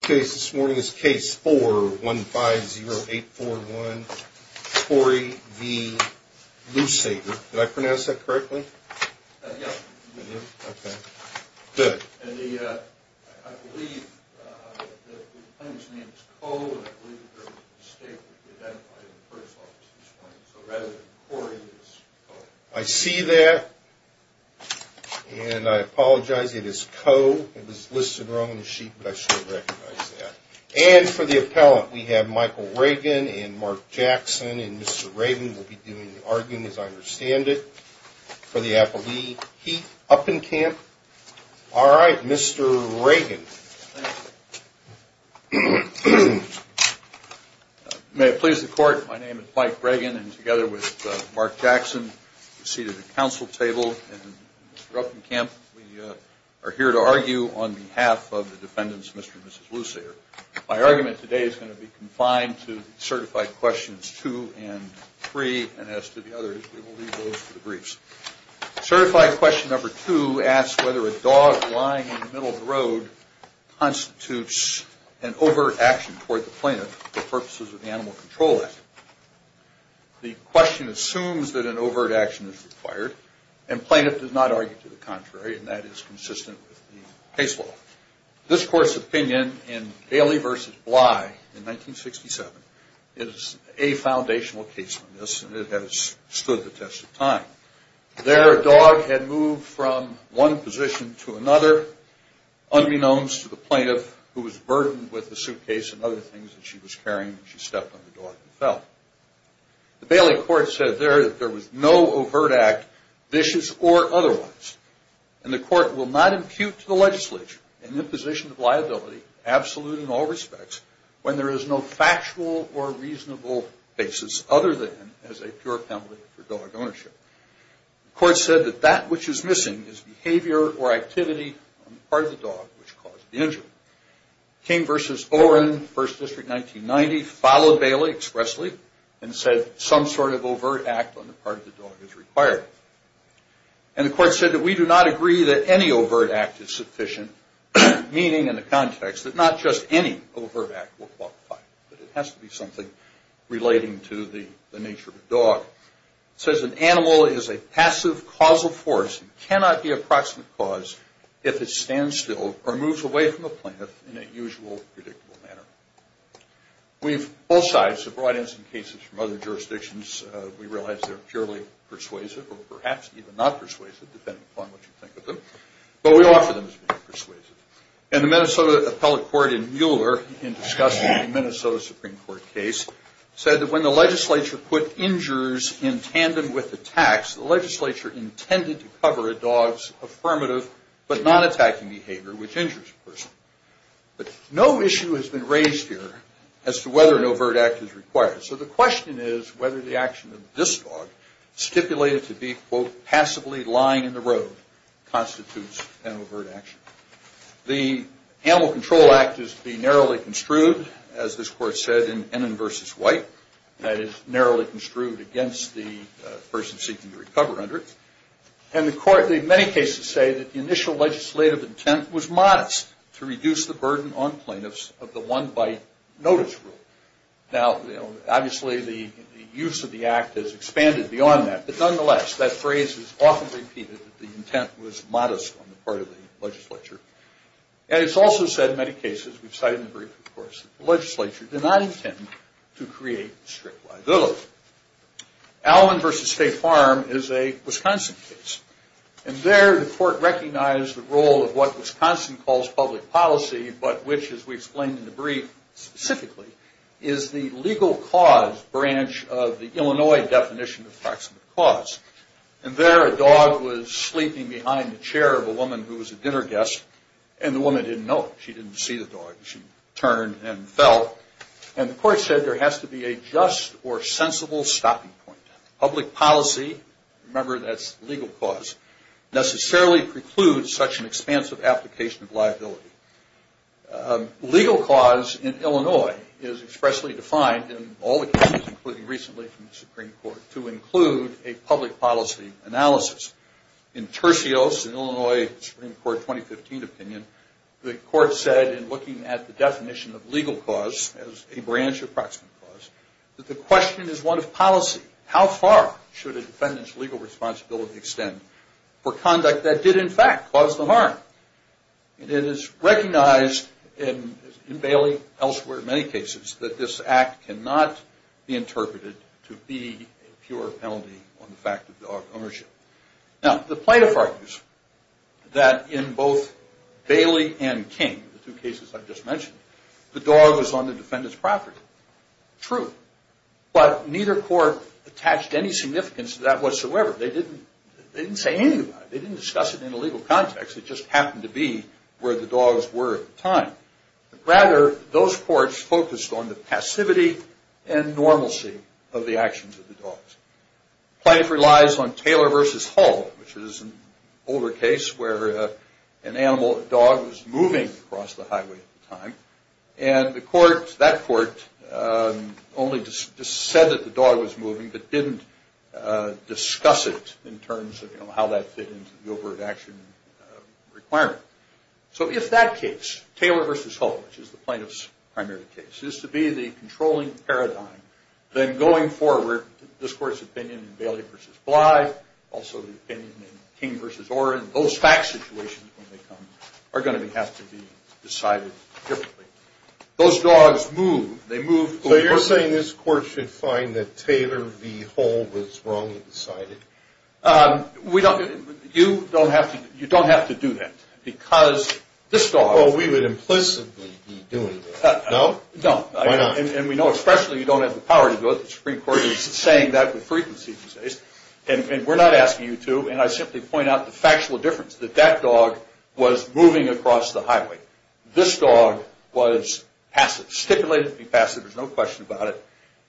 Case this morning is Case 4-150841 Corey v. Lewsader. Did I pronounce that correctly? Yes, you did. Okay, good. I believe the plaintiff's name is Coe and I believe there was a mistake when you identified him in the first office this morning. So rather than Corey, it's Coe. I see that and I apologize. It is Coe. It was listed wrong on the sheet, but I should recognize that. And for the appellant, we have Michael Reagan and Mark Jackson. And Mr. Reagan will be doing the arguing, as I understand it, for the Appellee Heat Uppencamp. All right, Mr. Reagan. May it please the Court, my name is Mike Reagan and together with Mark Jackson, we're seated at the council table. And Mr. Uppencamp, we are here to argue on behalf of the defendants, Mr. and Mrs. Lewsader. My argument today is going to be confined to Certified Questions 2 and 3, and as to the others, we will leave those for the briefs. Certified Question 2 asks whether a dog lying in the middle of the road constitutes an overt action toward the plaintiff for purposes of the Animal Control Act. The question assumes that an overt action is required and plaintiff does not argue to the contrary and that is consistent with the case law. This Court's opinion in Bailey v. Bly in 1967 is a foundational case on this and it has stood the test of time. There, a dog had moved from one position to another, unbeknownst to the plaintiff, who was burdened with a suitcase and other things that she was carrying, and she stepped on the dog and fell. The Bailey court said there that there was no overt act, vicious or otherwise, and the court will not impute to the legislature an imposition of liability, absolute in all respects, when there is no factual or reasonable basis other than as a pure penalty for dog ownership. The court said that that which is missing is behavior or activity on the part of the dog which caused the injury. King v. Oren, First District, 1990, followed Bailey expressly and said some sort of overt act on the part of the dog is required. And the court said that we do not agree that any overt act is sufficient, meaning in the context that not just any overt act will qualify, but it has to be something relating to the nature of the dog. It says an animal is a passive causal force and cannot be a proximate cause if it stands still or moves away from a plaintiff in a usual, predictable manner. Both sides have brought in some cases from other jurisdictions. We realize they're purely persuasive or perhaps even not persuasive, depending upon what you think of them, but we offer them as being persuasive. And the Minnesota Appellate Court in Mueller, in discussing the Minnesota Supreme Court case, said that when the legislature put injures in tandem with attacks, the legislature intended to cover a dog's affirmative but non-attacking behavior, which injures a person. But no issue has been raised here as to whether an overt act is required. So the question is whether the action of this dog, stipulated to be, quote, passively lying in the road, constitutes an overt action. The Animal Control Act is to be narrowly construed, as this court said in Ennin v. White, that is narrowly construed against the person seeking to recover under it. And the court in many cases say that the initial legislative intent was modest to reduce the burden on plaintiffs of the one-bite notice rule. Now, obviously, the use of the act has expanded beyond that, but nonetheless, that phrase is often repeated, that the intent was modest on the part of the legislature. And it's also said in many cases, we've cited in the brief, of course, that the legislature did not intend to create strict liability. Allen v. State Farm is a Wisconsin case. And there the court recognized the role of what Wisconsin calls public policy, but which, as we explained in the brief specifically, is the legal cause branch of the Illinois definition of proximate cause. And there a dog was sleeping behind the chair of a woman who was a dinner guest, and the woman didn't know it. She didn't see the dog. She turned and fell. And the court said there has to be a just or sensible stopping point. Public policy, remember that's legal cause, necessarily precludes such an expansive application of liability. Legal cause in Illinois is expressly defined in all the cases, including recently from the Supreme Court, to include a public policy analysis. In Tercios, an Illinois Supreme Court 2015 opinion, the court said in looking at the definition of legal cause as a branch of proximate cause, that the question is one of policy. How far should a defendant's legal responsibility extend for conduct that did, in fact, cause them harm? And it is recognized in Bailey, elsewhere, in many cases, that this act cannot be interpreted to be a pure penalty on the fact of dog ownership. Now, the plaintiff argues that in both Bailey and King, the two cases I just mentioned, the dog was on the defendant's property. True. But neither court attached any significance to that whatsoever. They didn't say anything about it. They didn't discuss it in a legal context. It just happened to be where the dogs were at the time. Rather, those courts focused on the passivity and normalcy of the actions of the dogs. The plaintiff relies on Taylor v. Hall, which is an older case where an animal, a dog, was moving across the highway at the time. And the court, that court, only said that the dog was moving, but didn't discuss it in terms of how that fit into the overt action requirement. So if that case, Taylor v. Hall, which is the plaintiff's primary case, is to be the controlling paradigm, then going forward, this court's opinion in Bailey v. Bly, also the opinion in King v. Oren, those fact situations when they come are going to have to be decided differently. Those dogs move. So you're saying this court should find that Taylor v. Hall was wrongly decided? You don't have to do that because this dog... Well, we would implicitly be doing that, no? No. Why not? And we know especially you don't have the power to do it. The Supreme Court is saying that with frequency these days. And we're not asking you to. And I simply point out the factual difference, that that dog was moving across the highway. This dog was passive, stipulated to be passive. There's no question about it.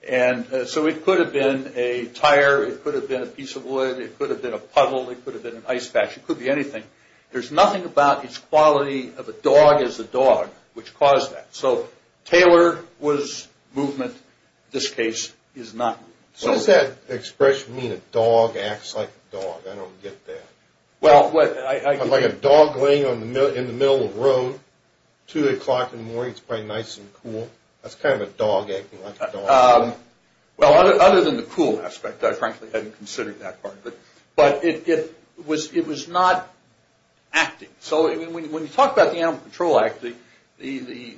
And so it could have been a tire. It could have been a piece of wood. It could have been a puddle. It could have been an ice patch. It could be anything. There's nothing about its quality of a dog as a dog which caused that. So Taylor was movement. This case is not movement. So does that expression mean a dog acts like a dog? I don't get that. Like a dog laying in the middle of the road, 2 o'clock in the morning, it's probably nice and cool. That's kind of a dog acting like a dog. Well, other than the cool aspect, I frankly hadn't considered that part. But it was not acting. So when you talk about the Animal Control Act, the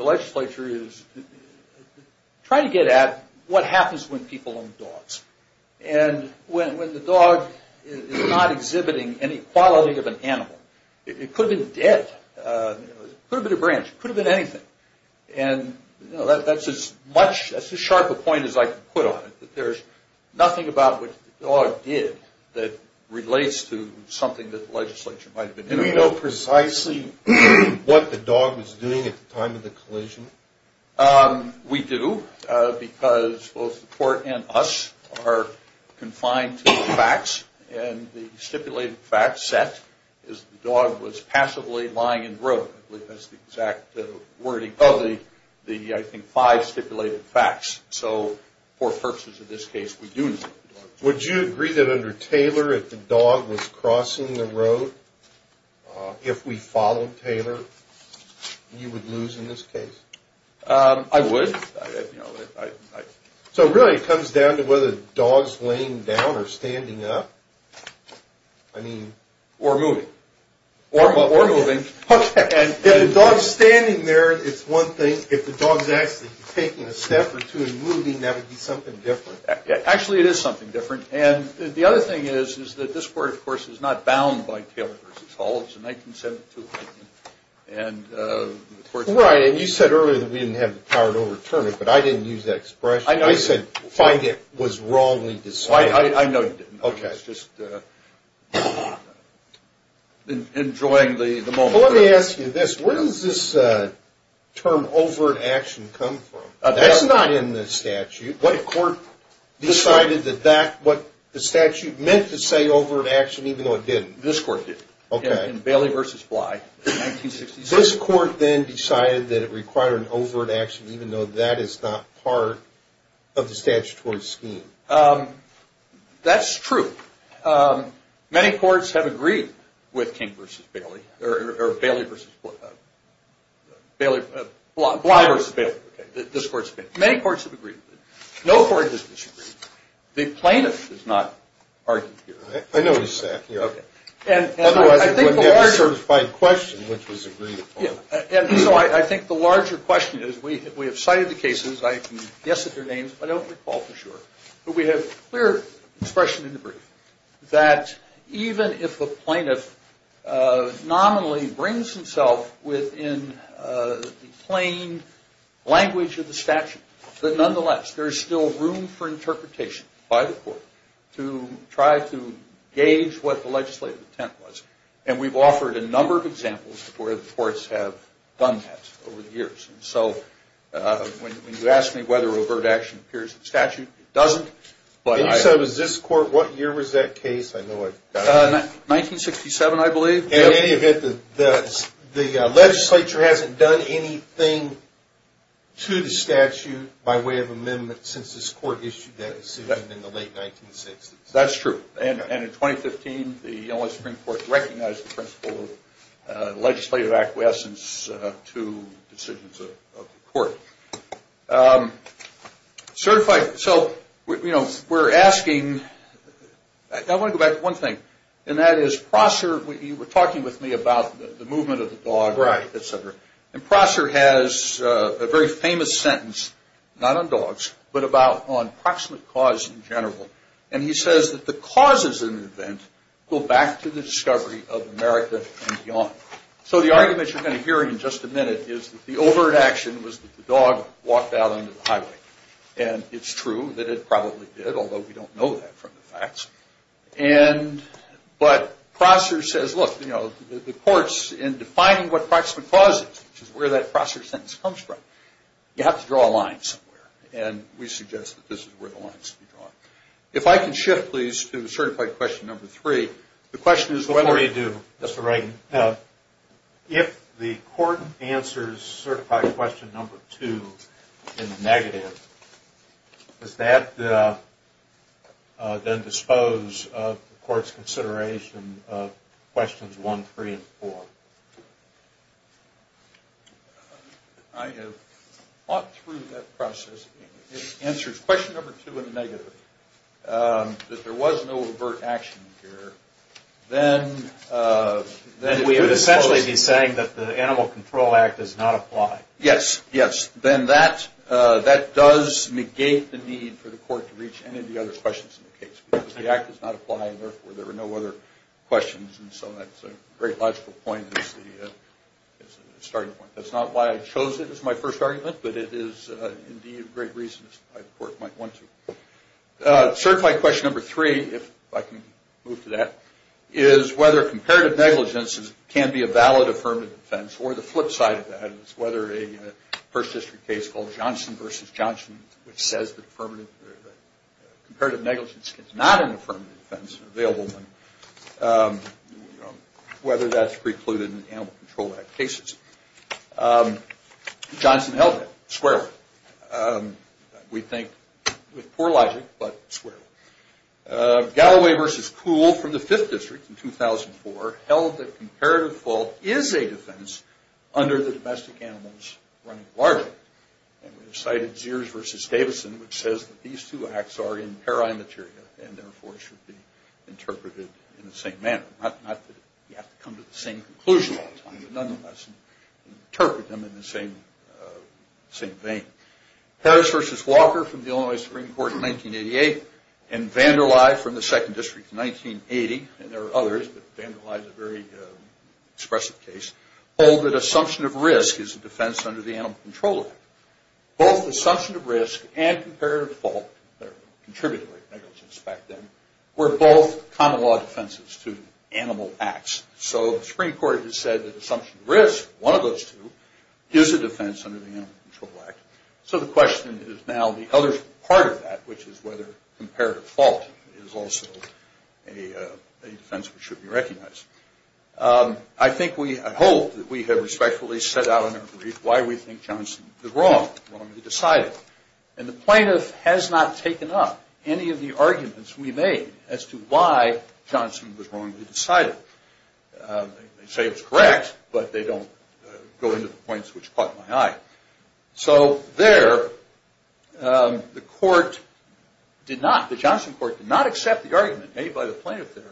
legislature is trying to get at what happens when people own dogs. And when the dog is not exhibiting any quality of an animal, it could have been dead. It could have been a branch. It could have been anything. And that's as sharp a point as I can put on it. There's nothing about what the dog did that relates to something that the legislature might have been doing. Do we know precisely what the dog was doing at the time of the collision? We do because both the court and us are confined to the facts. And the stipulated facts set is the dog was passively lying in the road. That's the exact wording of the, I think, five stipulated facts. So for purposes of this case, we do know. Would you agree that under Taylor, if the dog was crossing the road, if we followed Taylor, you would lose in this case? I would. So really it comes down to whether the dog's laying down or standing up? Or moving. Or moving. Okay. If the dog's standing there, it's one thing. If the dog's actually taking a step or two and moving, that would be something different. Actually, it is something different. And the other thing is, is that this court, of course, is not bound by Taylor v. Hall. It's a 1972 amendment. Right. And you said earlier that we didn't have the power to overturn it, but I didn't use that expression. I said finding it was wrongly decided. I know you didn't. Okay. I was just enjoying the moment. Well, let me ask you this. Where does this term, overt action, come from? That's not in the statute. What court decided that that, what the statute meant to say, overt action, even though it didn't? This court did. Okay. In Bailey v. Bly, 1966. This court then decided that it required an overt action, even though that is not part of the statutory scheme? That's true. Many courts have agreed with King v. Bailey, or Bailey v. Bly v. Bailey, this court's opinion. Many courts have agreed with it. No court has disagreed. The plaintiff is not argued here. I noticed that. Okay. Otherwise, it would have been a certified question, which was agreed upon. And so I think the larger question is, we have cited the cases. I can guess at their names, but I don't recall for sure. But we have clear expression in the brief that even if the plaintiff nominally brings himself within the plain language of the statute, that nonetheless, there is still room for interpretation by the court to try to gauge what the legislative intent was. And we've offered a number of examples where the courts have done that over the years. And so when you ask me whether overt action appears in the statute, it doesn't. You said it was this court. What year was that case? 1967, I believe. In any event, the legislature hasn't done anything to the statute by way of amendment since this court issued that decision in the late 1960s. That's true. And in 2015, the Illinois Supreme Court recognized the principle of legislative acquiescence to decisions of the court. Certified. So, you know, we're asking. I want to go back to one thing, and that is Prosser. You were talking with me about the movement of the dog, et cetera. And Prosser has a very famous sentence, not on dogs, but about on proximate cause in general. And he says that the causes of an event go back to the discovery of America and beyond. So the argument you're going to hear in just a minute is that the overt action was that the dog walked out onto the highway. And it's true that it probably did, although we don't know that from the facts. But Prosser says, look, you know, the courts, in defining what proximate cause is, which is where that Prosser sentence comes from, you have to draw a line somewhere. And we suggest that this is where the line should be drawn. If I can shift, please, to certified question number three. The question is before you do, Mr. Reagan, if the court answers certified question number two in the negative, does that then dispose of the court's consideration of questions one, three, and four? I have thought through that process. If it answers question number two in the negative, that there was no overt action here, then it would dispose. Then we would essentially be saying that the Animal Control Act does not apply. Yes, yes. Then that does negate the need for the court to reach any of the other questions in the case, because the act does not apply, and therefore there were no other questions. And so that's a great logical point as the starting point. That's not why I chose it as my first argument, but it is indeed a great reason why the court might want to. Certified question number three, if I can move to that, is whether comparative negligence can be a valid affirmative defense. Or the flip side of that is whether a First District case called Johnson v. Johnson, which says that comparative negligence is not an affirmative defense, available whether that's precluded in the Animal Control Act cases. Johnson held that squarely. We think with poor logic, but squarely. Galloway v. Kuhl from the Fifth District in 2004 held that comparative fault is a defense under the domestic animals running largely. And we have cited Ziers v. Davidson, which says that these two acts are in pari materia, and therefore should be interpreted in the same manner. Not that you have to come to the same conclusion all the time, but nonetheless, interpret them in the same vein. Harris v. Walker from the Illinois Supreme Court in 1988, and Vander Lye from the Second District in 1980, and there are others, but Vander Lye is a very expressive case, hold that assumption of risk is a defense under the Animal Control Act. Both assumption of risk and comparative fault, or contributory negligence back then, were both common law defenses to animal acts. So the Supreme Court has said that assumption of risk, one of those two, is a defense under the Animal Control Act. So the question is now the other part of that, which is whether comparative fault is also a defense which should be recognized. I think we, I hope that we have respectfully set out in our brief why we think Johnson was wrong, wrongly decided. And the plaintiff has not taken up any of the arguments we made as to why Johnson was wrongly decided. They say it's correct, but they don't go into the points which caught my eye. So there, the court did not, the Johnson court did not accept the argument made by the plaintiff there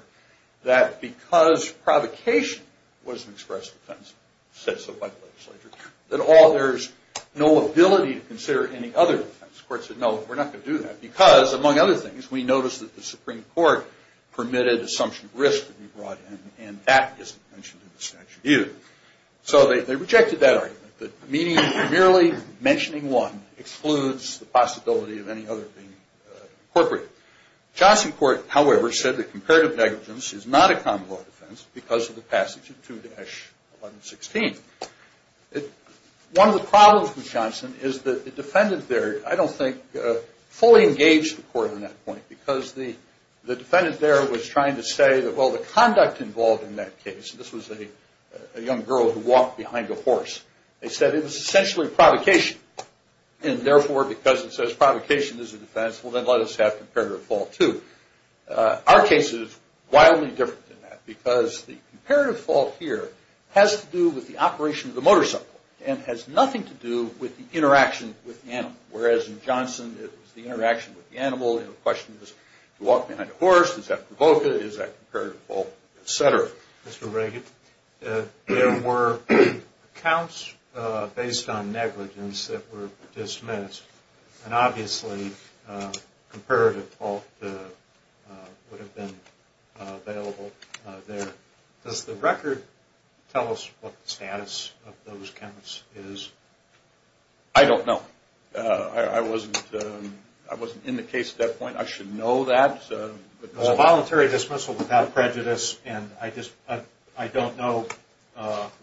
that because provocation was an expressive defense, said so by the legislature, that there's no ability to consider any other defense. The court said, no, we're not going to do that because, among other things, we noticed that the Supreme Court permitted assumption of risk to be brought in, and that isn't mentioned in the statute either. So they rejected that argument, that merely mentioning one excludes the possibility of any other being incorporated. Johnson court, however, said that comparative negligence is not a common law defense because of the passage of 2-1116. One of the problems with Johnson is that the defendant there, I don't think, fully engaged the court on that point because the defendant there was trying to say that, well, the conduct involved in that case, this was a young girl who walked behind a horse, they said it was essentially provocation. And therefore, because it says provocation is a defense, well, then let us have comparative fault too. Our case is wildly different than that because the comparative fault here has to do with the operation of the motorcycle and has nothing to do with the interaction with the animal. Whereas in Johnson, it was the interaction with the animal, and the question was to walk behind a horse, is that provocative, is that comparative fault, et cetera. Mr. Reagan, there were counts based on negligence that were dismissed, and obviously comparative fault would have been available there. Does the record tell us what the status of those counts is? I don't know. I wasn't in the case at that point. I should know that. It was a voluntary dismissal without prejudice, and I don't know,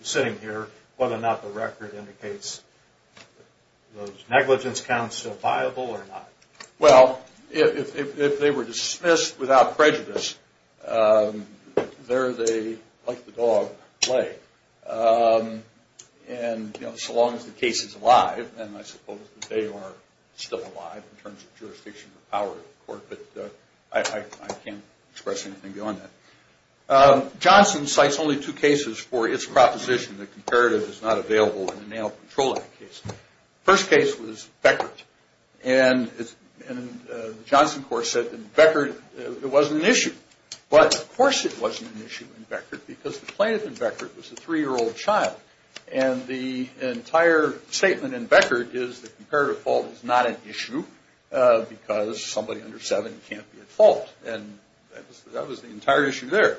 sitting here, whether or not the record indicates those negligence counts are viable or not. Well, if they were dismissed without prejudice, there they, like the dog, lay. And so long as the case is alive, and I suppose they are still alive in terms of jurisdiction and power of the court, but I can't express anything beyond that. Johnson cites only two cases for its proposition that comparative is not available in the Animal Control Act case. The first case was Beckert, and the Johnson court said in Beckert it wasn't an issue. But of course it wasn't an issue in Beckert because the plaintiff in Beckert was a three-year-old child, and the entire statement in Beckert is that comparative fault is not an issue because somebody under seven can't be at fault. And that was the entire issue there.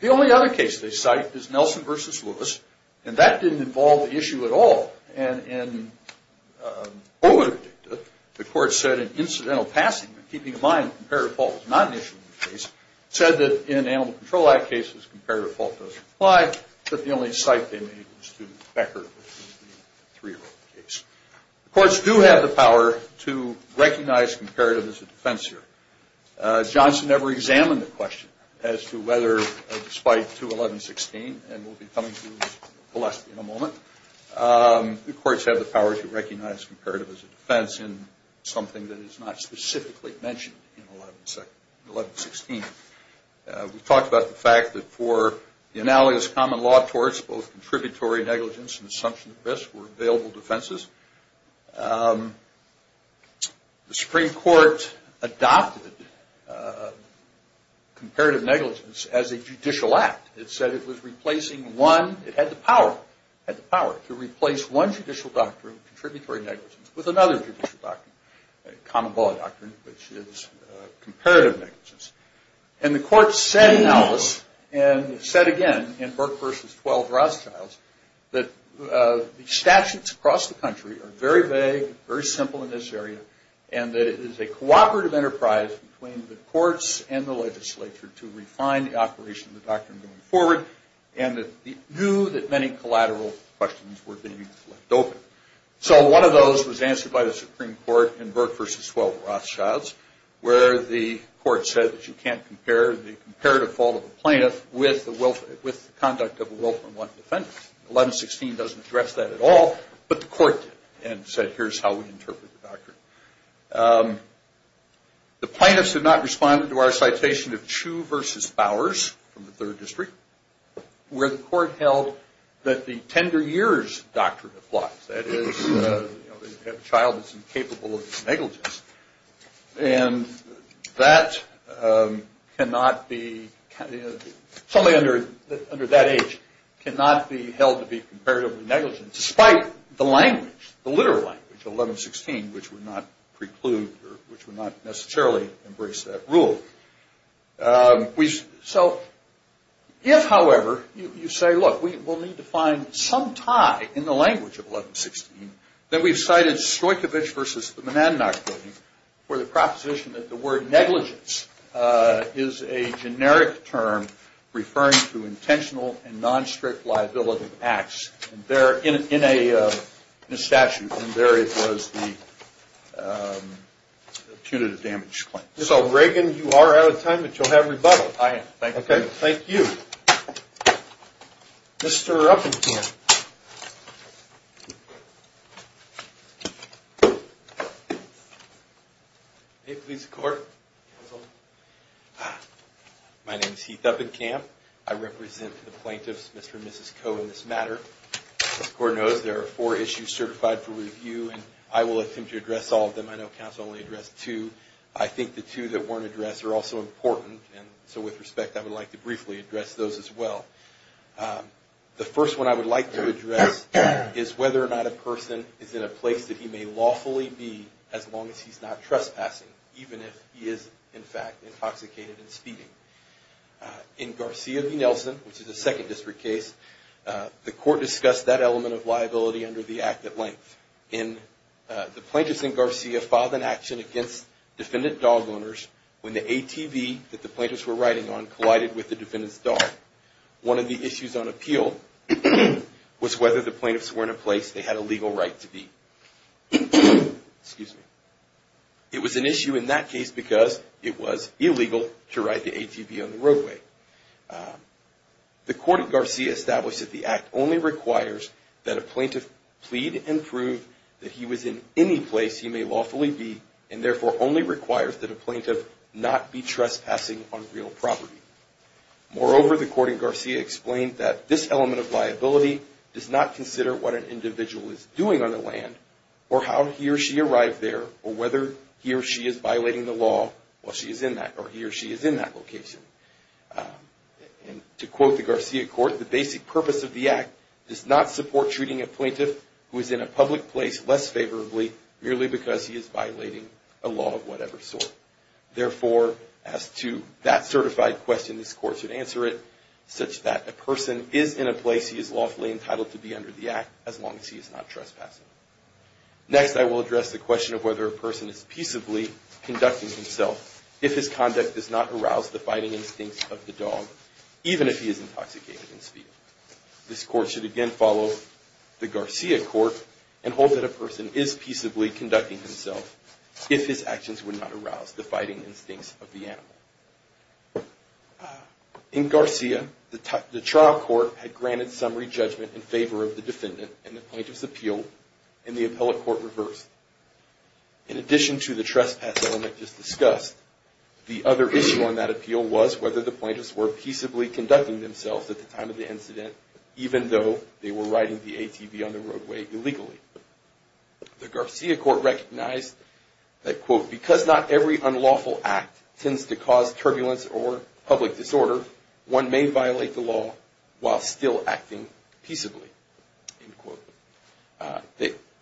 The only other case they cite is Nelson v. Lewis, and that didn't involve the issue at all. And the court said in incidental passing, keeping in mind that comparative fault was not an issue in the case, said that in Animal Control Act cases comparative fault doesn't apply, but the only cite they made was to Beckert, which was the three-year-old case. The courts do have the power to recognize comparative as a defense here. Johnson never examined the question as to whether, despite 2116, and we'll be coming to this in a moment, the courts have the power to recognize comparative as a defense in something that is not specifically mentioned in 1116. We've talked about the fact that for the analogous common law torts, both contributory negligence and assumption of risk were available defenses. The Supreme Court adopted comparative negligence as a judicial act. It said it was replacing one. It had the power to replace one judicial doctrine, contributory negligence, with another judicial doctrine, common law doctrine, which is comparative negligence. And the court said in Alice, and said again in Burke v. 12 Rothschilds, that the statutes across the country are very vague, very simple in this area, and that it is a cooperative enterprise between the courts and the legislature to refine the operation of the doctrine going forward, and it knew that many collateral questions were being left open. So one of those was answered by the Supreme Court in Burke v. 12 Rothschilds, where the court said that you can't compare the comparative fault of a plaintiff with the conduct of a Wilfrin I defendant. 1116 doesn't address that at all, but the court did, and said, here's how we interpret the doctrine. The plaintiffs did not respond to our citation of Chew v. Bowers from the Third District, where the court held that the tender years doctrine applies, that is, a child is incapable of negligence. And that cannot be, somebody under that age cannot be held to be comparatively negligent, despite the language, the literal language of 1116, which would not preclude, or which would not necessarily embrace that rule. So if, however, you say, look, we'll need to find some tie in the language of 1116, then we've cited Stoichovitch v. the Mnannach building for the proposition that the word negligence is a generic term referring to intentional and non-strict liability acts in a statute, and there it was, the punitive damage claim. So, Reagan, you are out of time, but you'll have rebuttal. I am. Thank you. Okay. Thank you. Mr. Uppenkamp. May it please the Court. My name is Heath Uppenkamp. I represent the plaintiffs, Mr. and Mrs. Coe, in this matter. As the Court knows, there are four issues certified for review, and I will attempt to address all of them. I know counsel only addressed two. I think the two that weren't addressed are also important, and so with respect, I would like to briefly address those as well. The first one I would like to address is whether or not a person is in a place that he may lawfully be as long as he's not trespassing, even if he is, in fact, intoxicated and speeding. In Garcia v. Nelson, which is a Second District case, the Court discussed that element of liability under the act at length. The plaintiffs in Garcia filed an action against defendant dog owners when the ATV that the plaintiffs were riding on collided with the defendant's dog. One of the issues on appeal was whether the plaintiffs were in a place they had a legal right to be. It was an issue in that case because it was illegal to ride the ATV on the roadway. The Court in Garcia established that the act only requires that a plaintiff plead and prove that he was in any place he may lawfully be, and therefore only requires that a plaintiff not be trespassing on real property. Moreover, the Court in Garcia explained that this element of liability does not consider what an individual is doing on the land, or how he or she arrived there, or whether he or she is violating the law while he or she is in that location. And to quote the Garcia Court, the basic purpose of the act does not support treating a plaintiff who is in a public place less favorably, merely because he is violating a law of whatever sort. Therefore, as to that certified question, this Court should answer it such that a person is in a place he is lawfully entitled to be under the act as long as he is not trespassing. Next, I will address the question of whether a person is peaceably conducting himself if his conduct does not arouse the fighting instincts of the dog, even if he is intoxicated in speed. This Court should again follow the Garcia Court and hold that a person is peaceably conducting himself if his actions would not arouse the fighting instincts of the animal. In Garcia, the trial court had granted summary judgment in favor of the defendant, and the plaintiffs appealed, and the appellate court reversed. In addition to the trespass element just discussed, the other issue on that appeal was whether the plaintiffs were peaceably conducting themselves at the time of the incident, even though they were riding the ATV on the roadway illegally. The Garcia Court recognized that, quote, because not every unlawful act tends to cause turbulence or public disorder, one may violate the law while still acting peaceably, end quote.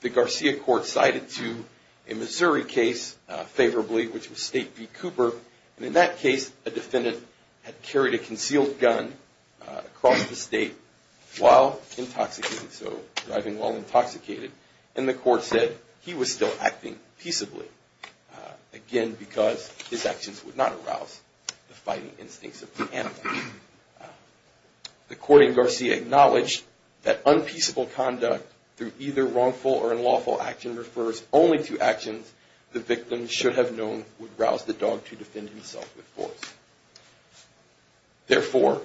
The Garcia Court cited to a Missouri case favorably, which was State v. Cooper, and in that case, a defendant had carried a concealed gun across the state while intoxicated, and the court said he was still acting peaceably, again, because his actions would not arouse the fighting instincts of the animal. The court in Garcia acknowledged that unpeaceable conduct through either wrongful or unlawful action refers only to actions the victim should have known would rouse the dog to defend himself with force. Therefore,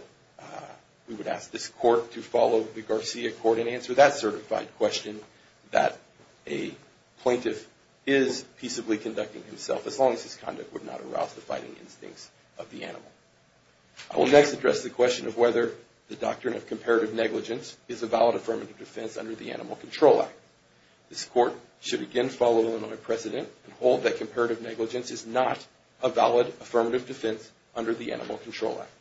we would ask this court to follow the Garcia Court and answer that certified question that a plaintiff is peaceably conducting himself as long as his conduct would not arouse the fighting instincts of the animal. I will next address the question of whether the doctrine of comparative negligence is a valid affirmative defense under the Animal Control Act. This court should again follow Illinois precedent and hold that comparative negligence is not a valid affirmative defense under the Animal Control Act.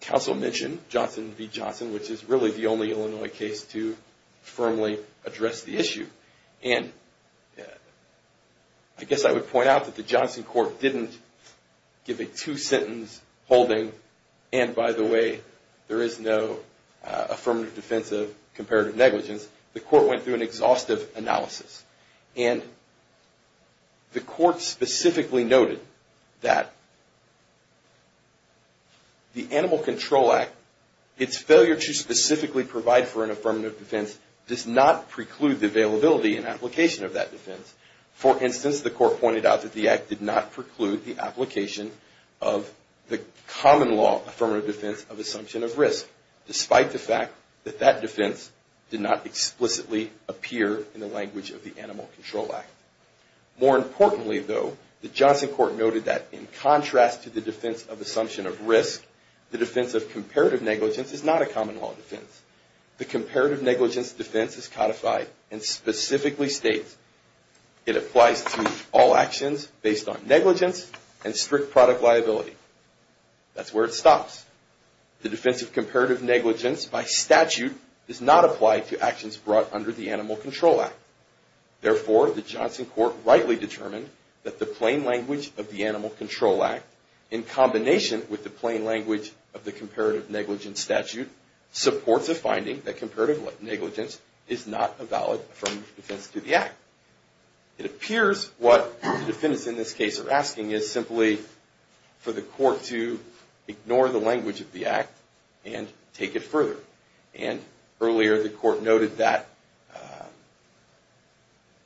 Counsel mentioned Johnson v. Johnson, which is really the only Illinois case to firmly address the issue. And I guess I would point out that the Johnson court didn't give a two-sentence holding, and by the way, there is no affirmative defense of comparative negligence. The court went through an exhaustive analysis. And the court specifically noted that the Animal Control Act, its failure to specifically provide for an affirmative defense, does not preclude the availability and application of that defense. For instance, the court pointed out that the Act did not preclude the application of the common law affirmative defense of assumption of risk, despite the fact that that defense did not explicitly appear in the language of the Act. More importantly, though, the Johnson court noted that in contrast to the defense of assumption of risk, the defense of comparative negligence is not a common law defense. The comparative negligence defense is codified and specifically states it applies to all actions based on negligence and strict product liability. Therefore, the Johnson court rightly determined that the plain language of the Animal Control Act, in combination with the plain language of the comparative negligence statute, supports a finding that comparative negligence is not a valid affirmative defense to the Act. It appears what the defendants in this case are asking is simply for the court to ignore the language of the Act and take it further. And earlier the court noted that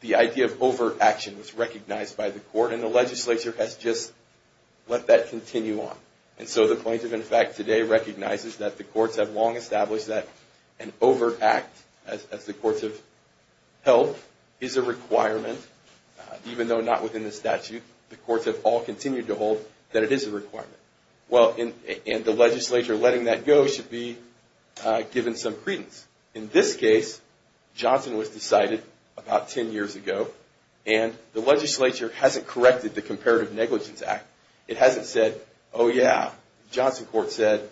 the idea of over-action was recognized by the court and the legislature has just let that continue on. And so the plaintiff, in fact, today recognizes that the courts have long established that an over-act, as the courts have held, is a requirement. Even though not within the statute, the courts have all continued to hold that it is a requirement. And the legislature letting that go should be given some credence. In this case, Johnson was decided about 10 years ago and the legislature hasn't corrected the Comparative Negligence Act. It hasn't said, oh yeah, the Johnson court said,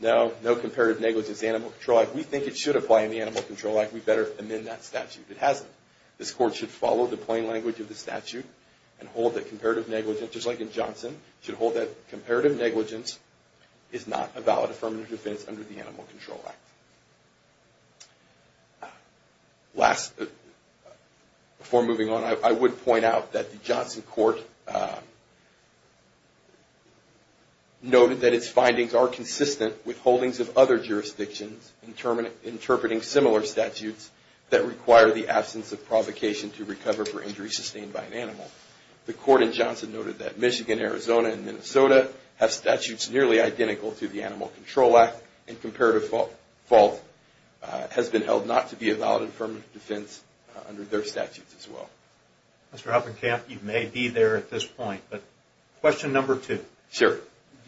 no, no comparative negligence in the Animal Control Act. We think it should apply in the Animal Control Act. We better amend that statute. It hasn't. This court should follow the plain language of the statute and hold that comparative negligence, just like in Johnson, should hold that comparative negligence is not a valid affirmative defense under the Animal Control Act. Before moving on, I would point out that the Johnson court noted that its findings are consistent with holdings of other jurisdictions interpreting similar statutes that require the absence of provocation to recover for injury sustained by an animal. The court in Johnson noted that Michigan, Arizona and Minnesota have statutes nearly identical to the Animal Control Act and comparative fault has been held not to be a valid affirmative defense under their statutes as well. Mr. Hoppenkamp, you may be there at this point, but question number two. Do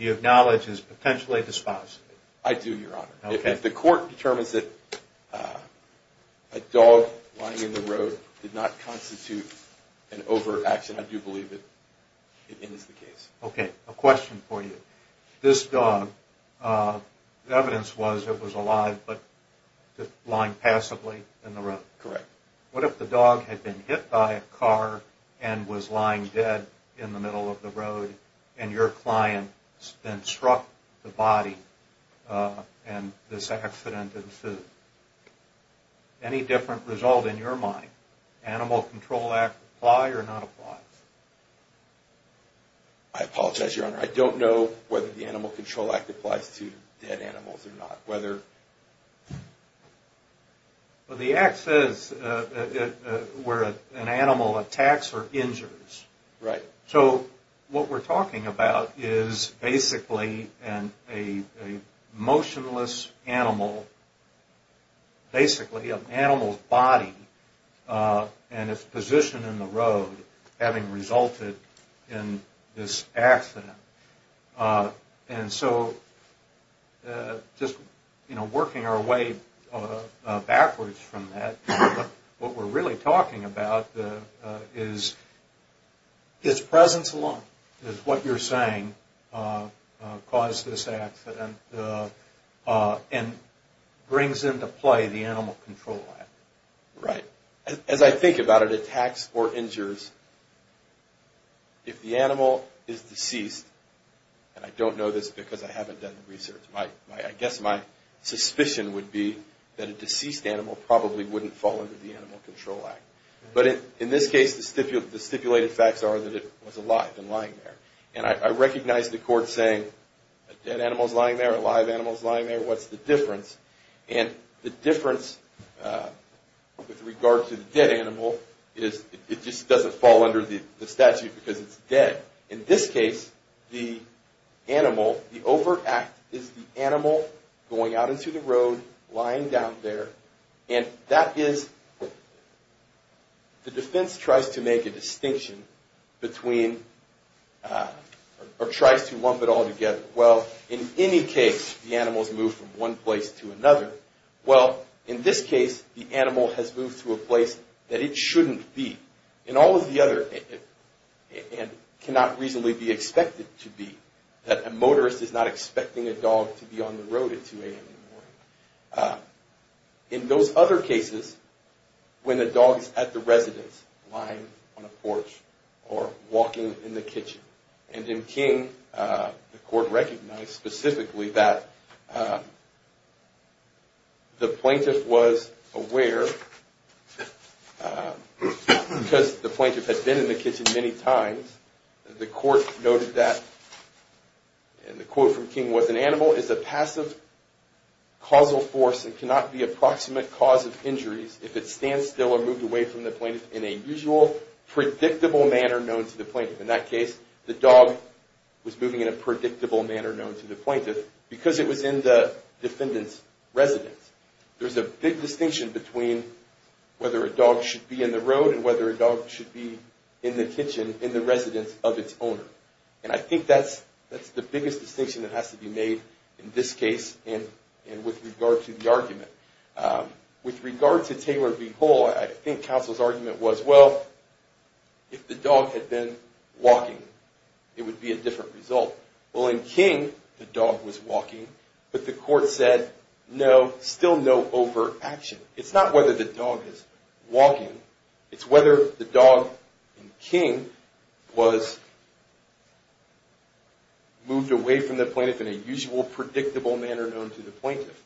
you acknowledge as potentially dispositive? I do, Your Honor. If the court determines that a dog lying in the road did not constitute an over-action, I do believe that it is the case. Okay, a question for you. This dog, the evidence was it was alive, but lying passively in the road. Correct. What if the dog had been hit by a car and was lying dead in the middle of the road and your client then struck the body and this accident ensued? Any different result in your mind? Animal Control Act apply or not apply? I apologize, Your Honor. I don't know whether the Animal Control Act applies to dead animals or not. Well, the act says where an animal attacks or injures. Right. So what we're talking about is basically a motionless animal, basically an animal's body and its position in the road having resulted in this accident. And so just, you know, working our way backwards from that, what we're really talking about is its presence alone is what you're saying caused this accident and brings into play the Animal Control Act. Right. And I don't know this because I haven't done the research. I guess my suspicion would be that a deceased animal probably wouldn't fall under the Animal Control Act. But in this case, the stipulated facts are that it was alive and lying there. And I recognize the court saying a dead animal's lying there, a live animal's lying there, what's the difference? And the difference with regard to the dead animal is it just doesn't fall under the statute because it's dead. In this case, the animal, the overt act is the animal going out into the road, lying down there. And that is, the defense tries to make a distinction between, or tries to lump it all together. Well, in any case, the animal's moved from one place to another. Well, in this case, the animal has moved to a place that it shouldn't be. And all of the other, and cannot reasonably be expected to be, that a motorist is not expecting a dog to be on the road at 2 a.m. in the morning. In those other cases, when the dog's at the residence, lying on a porch, or walking in the kitchen. And in King, the court recognized specifically that the plaintiff was aware, because the plaintiff had been in the kitchen many times, the court noted that, and the quote from King was, an animal is a passive causal force and cannot be a proximate cause of injuries if it stands still or moved away from the plaintiff in a usual predictable manner known to the plaintiff. In that case, the dog was moving in a predictable manner known to the plaintiff, because it was in the defendant's residence. There's a big distinction between whether a dog should be in the road and whether a dog should be in the kitchen, in the residence of its owner. And I think that's the biggest distinction that has to be made in this case, and with regard to the argument. With regard to Taylor v. Hall, I think counsel's argument was, well, if the dog had been walking, it would be a different result. Well, in King, the dog was walking, but the court said, no, still no overt action. It's not whether the dog is walking, it's whether the dog in King was moved away from the plaintiff in a usual predictable manner known to the plaintiff.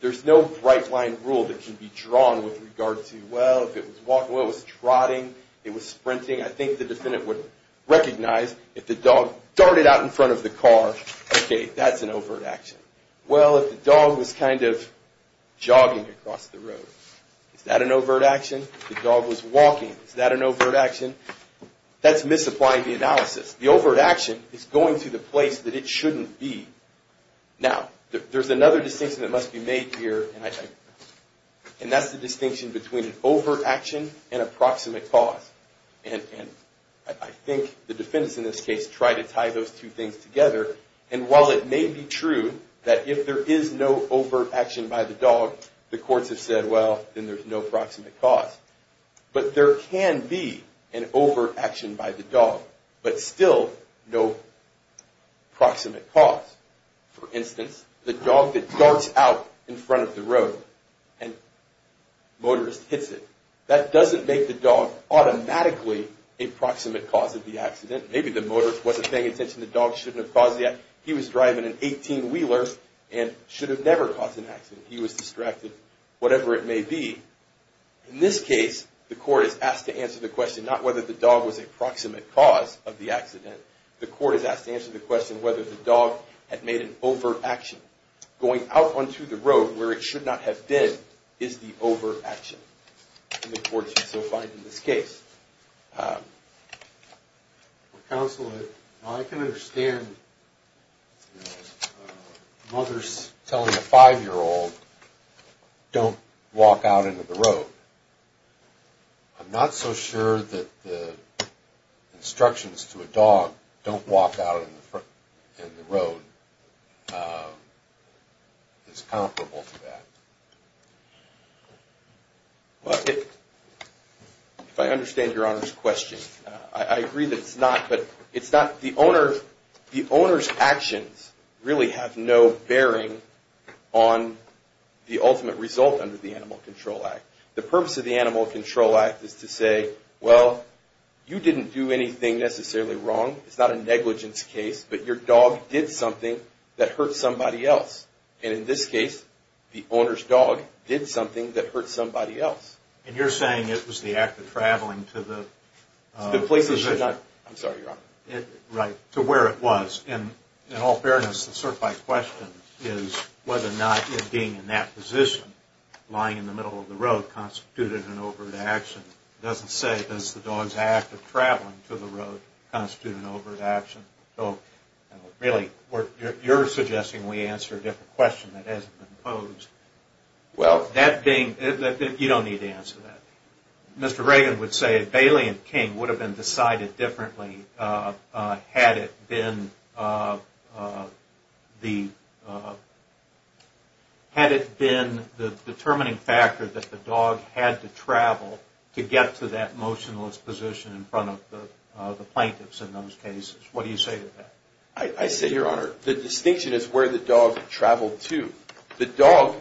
There's no right-line rule that can be drawn with regard to, well, if it was trotting, it was sprinting. I think the defendant would recognize if the dog darted out in front of the car, okay, that's an overt action. Well, if the dog was kind of jogging across the road, is that an overt action? If the dog was walking, is that an overt action? That's misapplying the analysis. The overt action is going to the place that it shouldn't be. Now, there's another distinction that must be made here, and that's the distinction between an overt action and a proximate cause. And I think the defendants in this case try to tie those two things together. And while it may be true that if there is no overt action by the dog, the courts have said, well, then there's no proximate cause. But there can be an overt action by the dog, but still no proximate cause. For instance, the dog that darts out in front of the road and a motorist hits it, that doesn't make the dog automatically a proximate cause of the accident. Maybe the motorist wasn't paying attention, the dog shouldn't have caused the accident. He was driving an 18-wheeler and should have never caused an accident. He was distracted, whatever it may be. In this case, the court is asked to answer the question not whether the dog was a proximate cause of the accident. The court is asked to answer the question whether the dog had made an overt action. Going out onto the road where it should not have been is the overt action. In the courts so far in this case. Counsel, I can understand mothers telling a 5-year-old, don't walk out into the road. I'm not so sure that the instructions to a dog, don't walk out in the road, is comparable to that. If I understand your Honor's question, I agree that it's not. The owner's actions really have no bearing on the ultimate result under the Animal Control Act. The purpose of the Animal Control Act is to say, well, you didn't do anything necessarily wrong. It's not a negligence case, but your dog did something that hurt somebody else. And in this case, the owner's dog did something that hurt somebody else. And you're saying it was the act of traveling to the position. Right, to where it was. In all fairness, it's sort of my question is whether or not it being in that position, lying in the middle of the road, constituted an overt action. It doesn't say, does the dog's act of traveling to the road constitute an overt action. Really, you're suggesting we answer a different question that hasn't been posed. Well, that being, you don't need to answer that. Mr. Reagan would say, if Bailey and King would have been decided differently, had it been the determining factor that the dog had to travel to get to that motionless position in front of the plaintiffs in those cases. What do you say to that? I say, Your Honor, the distinction is where the dog traveled to. The dog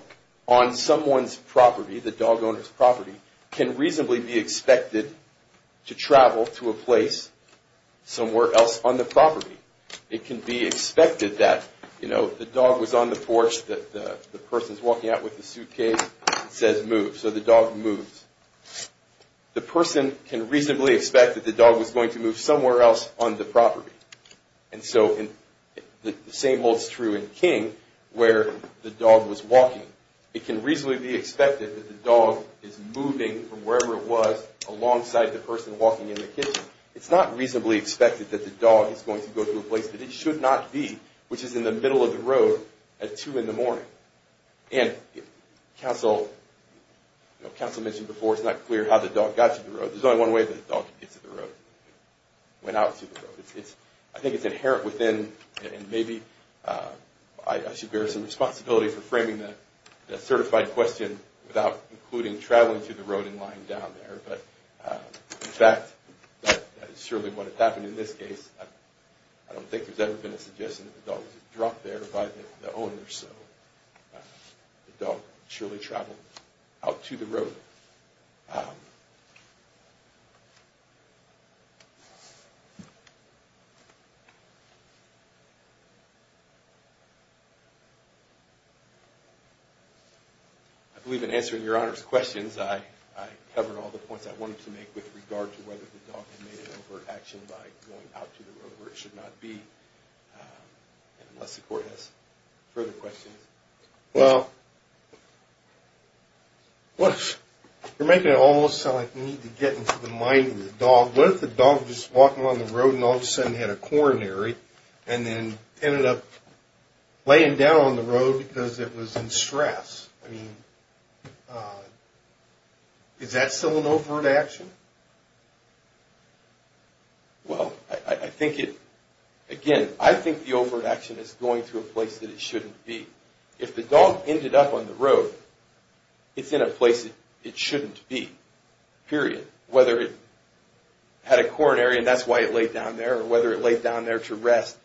on someone's property, the dog owner's property, can reasonably be expected to travel to a place somewhere else on the property. It can be expected that, you know, the dog was on the porch, the person's walking out with the suitcase, it says move, so the dog moves. The person can reasonably expect that the dog was going to move somewhere else on the property. And so, the same holds true in King, where the dog was walking. It can reasonably be expected that the dog is moving from wherever it was alongside the person walking in the kitchen. It's not reasonably expected that the dog is going to go to a place that it should not be, which is in the middle of the road at 2 in the morning. And counsel mentioned before, it's not clear how the dog got to the road. There's only one way the dog gets to the road. It went out to the road. I think it's inherent within, and maybe I should bear some responsibility for framing that certified question without including traveling to the road and lying down there. But in fact, that is surely what happened in this case. I don't think there's ever been a suggestion that the dog was dropped there by the owner. So, the dog surely traveled out to the road. I believe in answering your Honor's questions, I covered all the points I wanted to make with regard to whether the dog had made an overt action by going out to the road where it should not be. Unless the court has further questions. Well, you're making it almost sound like you need to get into the mind of the dog. What if the dog was just walking along the road and all of a sudden had a coronary and then ended up laying down on the road because it was in stress? Is that still an overt action? Well, again, I think the overt action is going to a place that it shouldn't be. If the dog ended up on the road, it's in a place it shouldn't be, period. Whether it had a coronary and that's why it laid down there, or whether it laid down there to rest,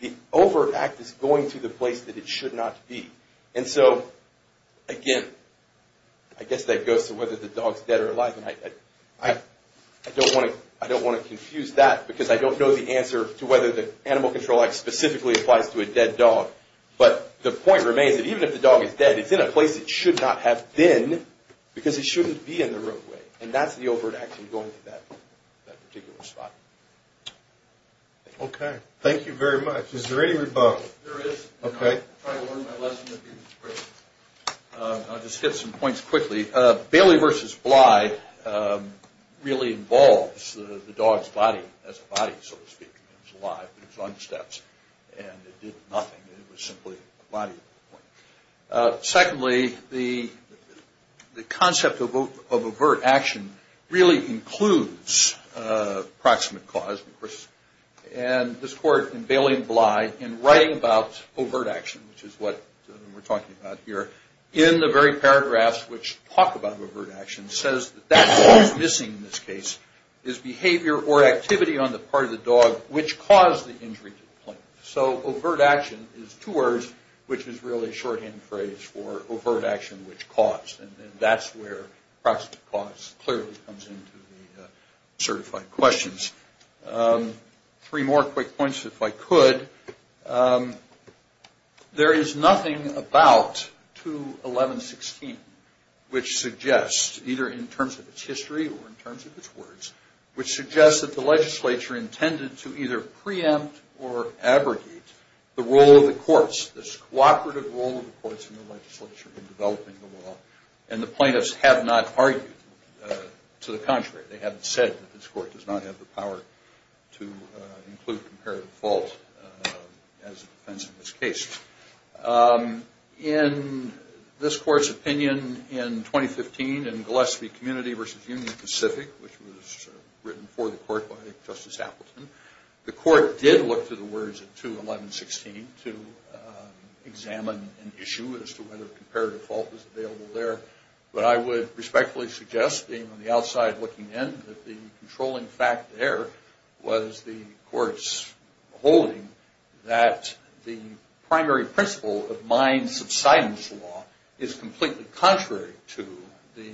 the overt act is going to the place that it should not be. And so, again, I guess that goes to whether the dog's dead or alive. I don't want to confuse that because I don't know the answer to whether the animal control act specifically applies to a dead dog. But the point remains that even if the dog is dead, it's in a place it should not have been because it shouldn't be in the roadway. And that's the overt action going to that particular spot. Thank you very much. Is there any rebuttal? I'll just get some points quickly. Bailey v. Bly really involves the dog's body as a body, so to speak. It was alive, but it was on the steps and it did nothing. It was simply a body. Secondly, the concept of overt action really includes proximate cause. And this court, in Bailey v. Bly, in writing about overt action, which is what we're talking about here, in the very paragraphs which talk about overt action, says that that's what's missing in this case, is behavior or activity on the part of the dog which caused the injury to the plaintiff. So overt action is two words, which is really a shorthand phrase for overt action which caused. And that's where proximate cause clearly comes into the certified questions. Three more quick points, if I could. There is nothing about 211-16 which suggests, either in terms of its history or in terms of its words, which suggests that the legislature intended to either preempt or abrogate the role of the courts, this cooperative role of the courts in the legislature in developing the law. And the plaintiffs have not argued to the contrary. They haven't said that this court does not have the power to include comparative fault as a defense in this case. In this court's opinion in 2015 in Gillespie Community v. Union Pacific, which was written for the court by Justice Appleton, the court did look to the words of 211-16 to examine an issue as to whether comparative fault was available there. But I would respectfully suggest, being on the outside looking in, that the controlling fact there was the court's holding that the primary principle of mine subsidence law is completely contrary to the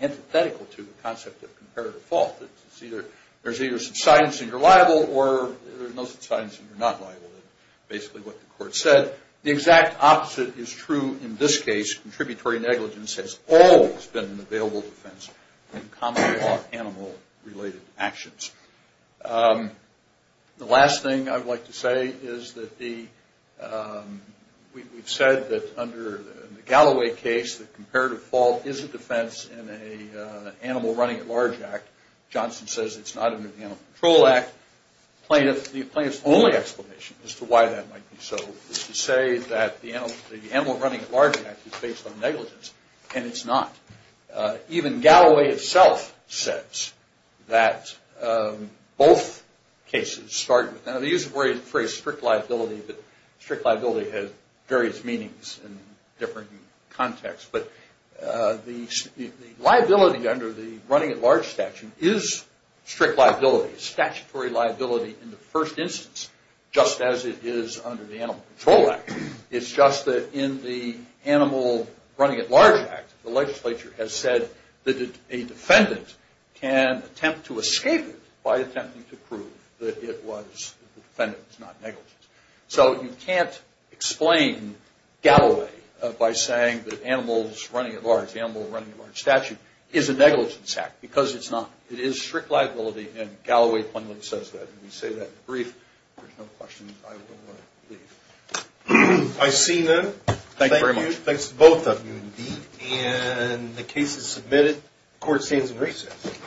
antithetical to the concept of comparative fault. It's either there's either subsidence and you're liable or there's no subsidence and you're not liable. That's basically what the court said. The exact opposite is true in this case. Contributory negligence has always been an available defense in common law animal-related actions. The last thing I'd like to say is that we've said that under the Galloway case, that comparative fault is a defense in an animal-running-at-large act. Johnson says it's not under the Animal Control Act. The plaintiff's only explanation as to why that might be so is to say that the animal-running-at-large act is based on negligence. And it's not. Even Galloway itself says that both cases start with... The use of the phrase strict liability has various meanings in different contexts. But the liability under the running-at-large statute is strict liability, statutory liability in the first instance, just as it is under the Animal Control Act. It's just that in the animal-running-at-large act, the legislature has said that a defendant can attempt to escape it by attempting to prove that the defendant was not negligent. So you can't explain Galloway by saying that the animal-running-at-large statute is a negligence act, because it's not. It is strict liability, and Galloway plainly says that. If we say that in the brief, there's no question I will leave. I see none. Thank you. Thanks to both of you indeed. And the case is submitted. Court stands in recess.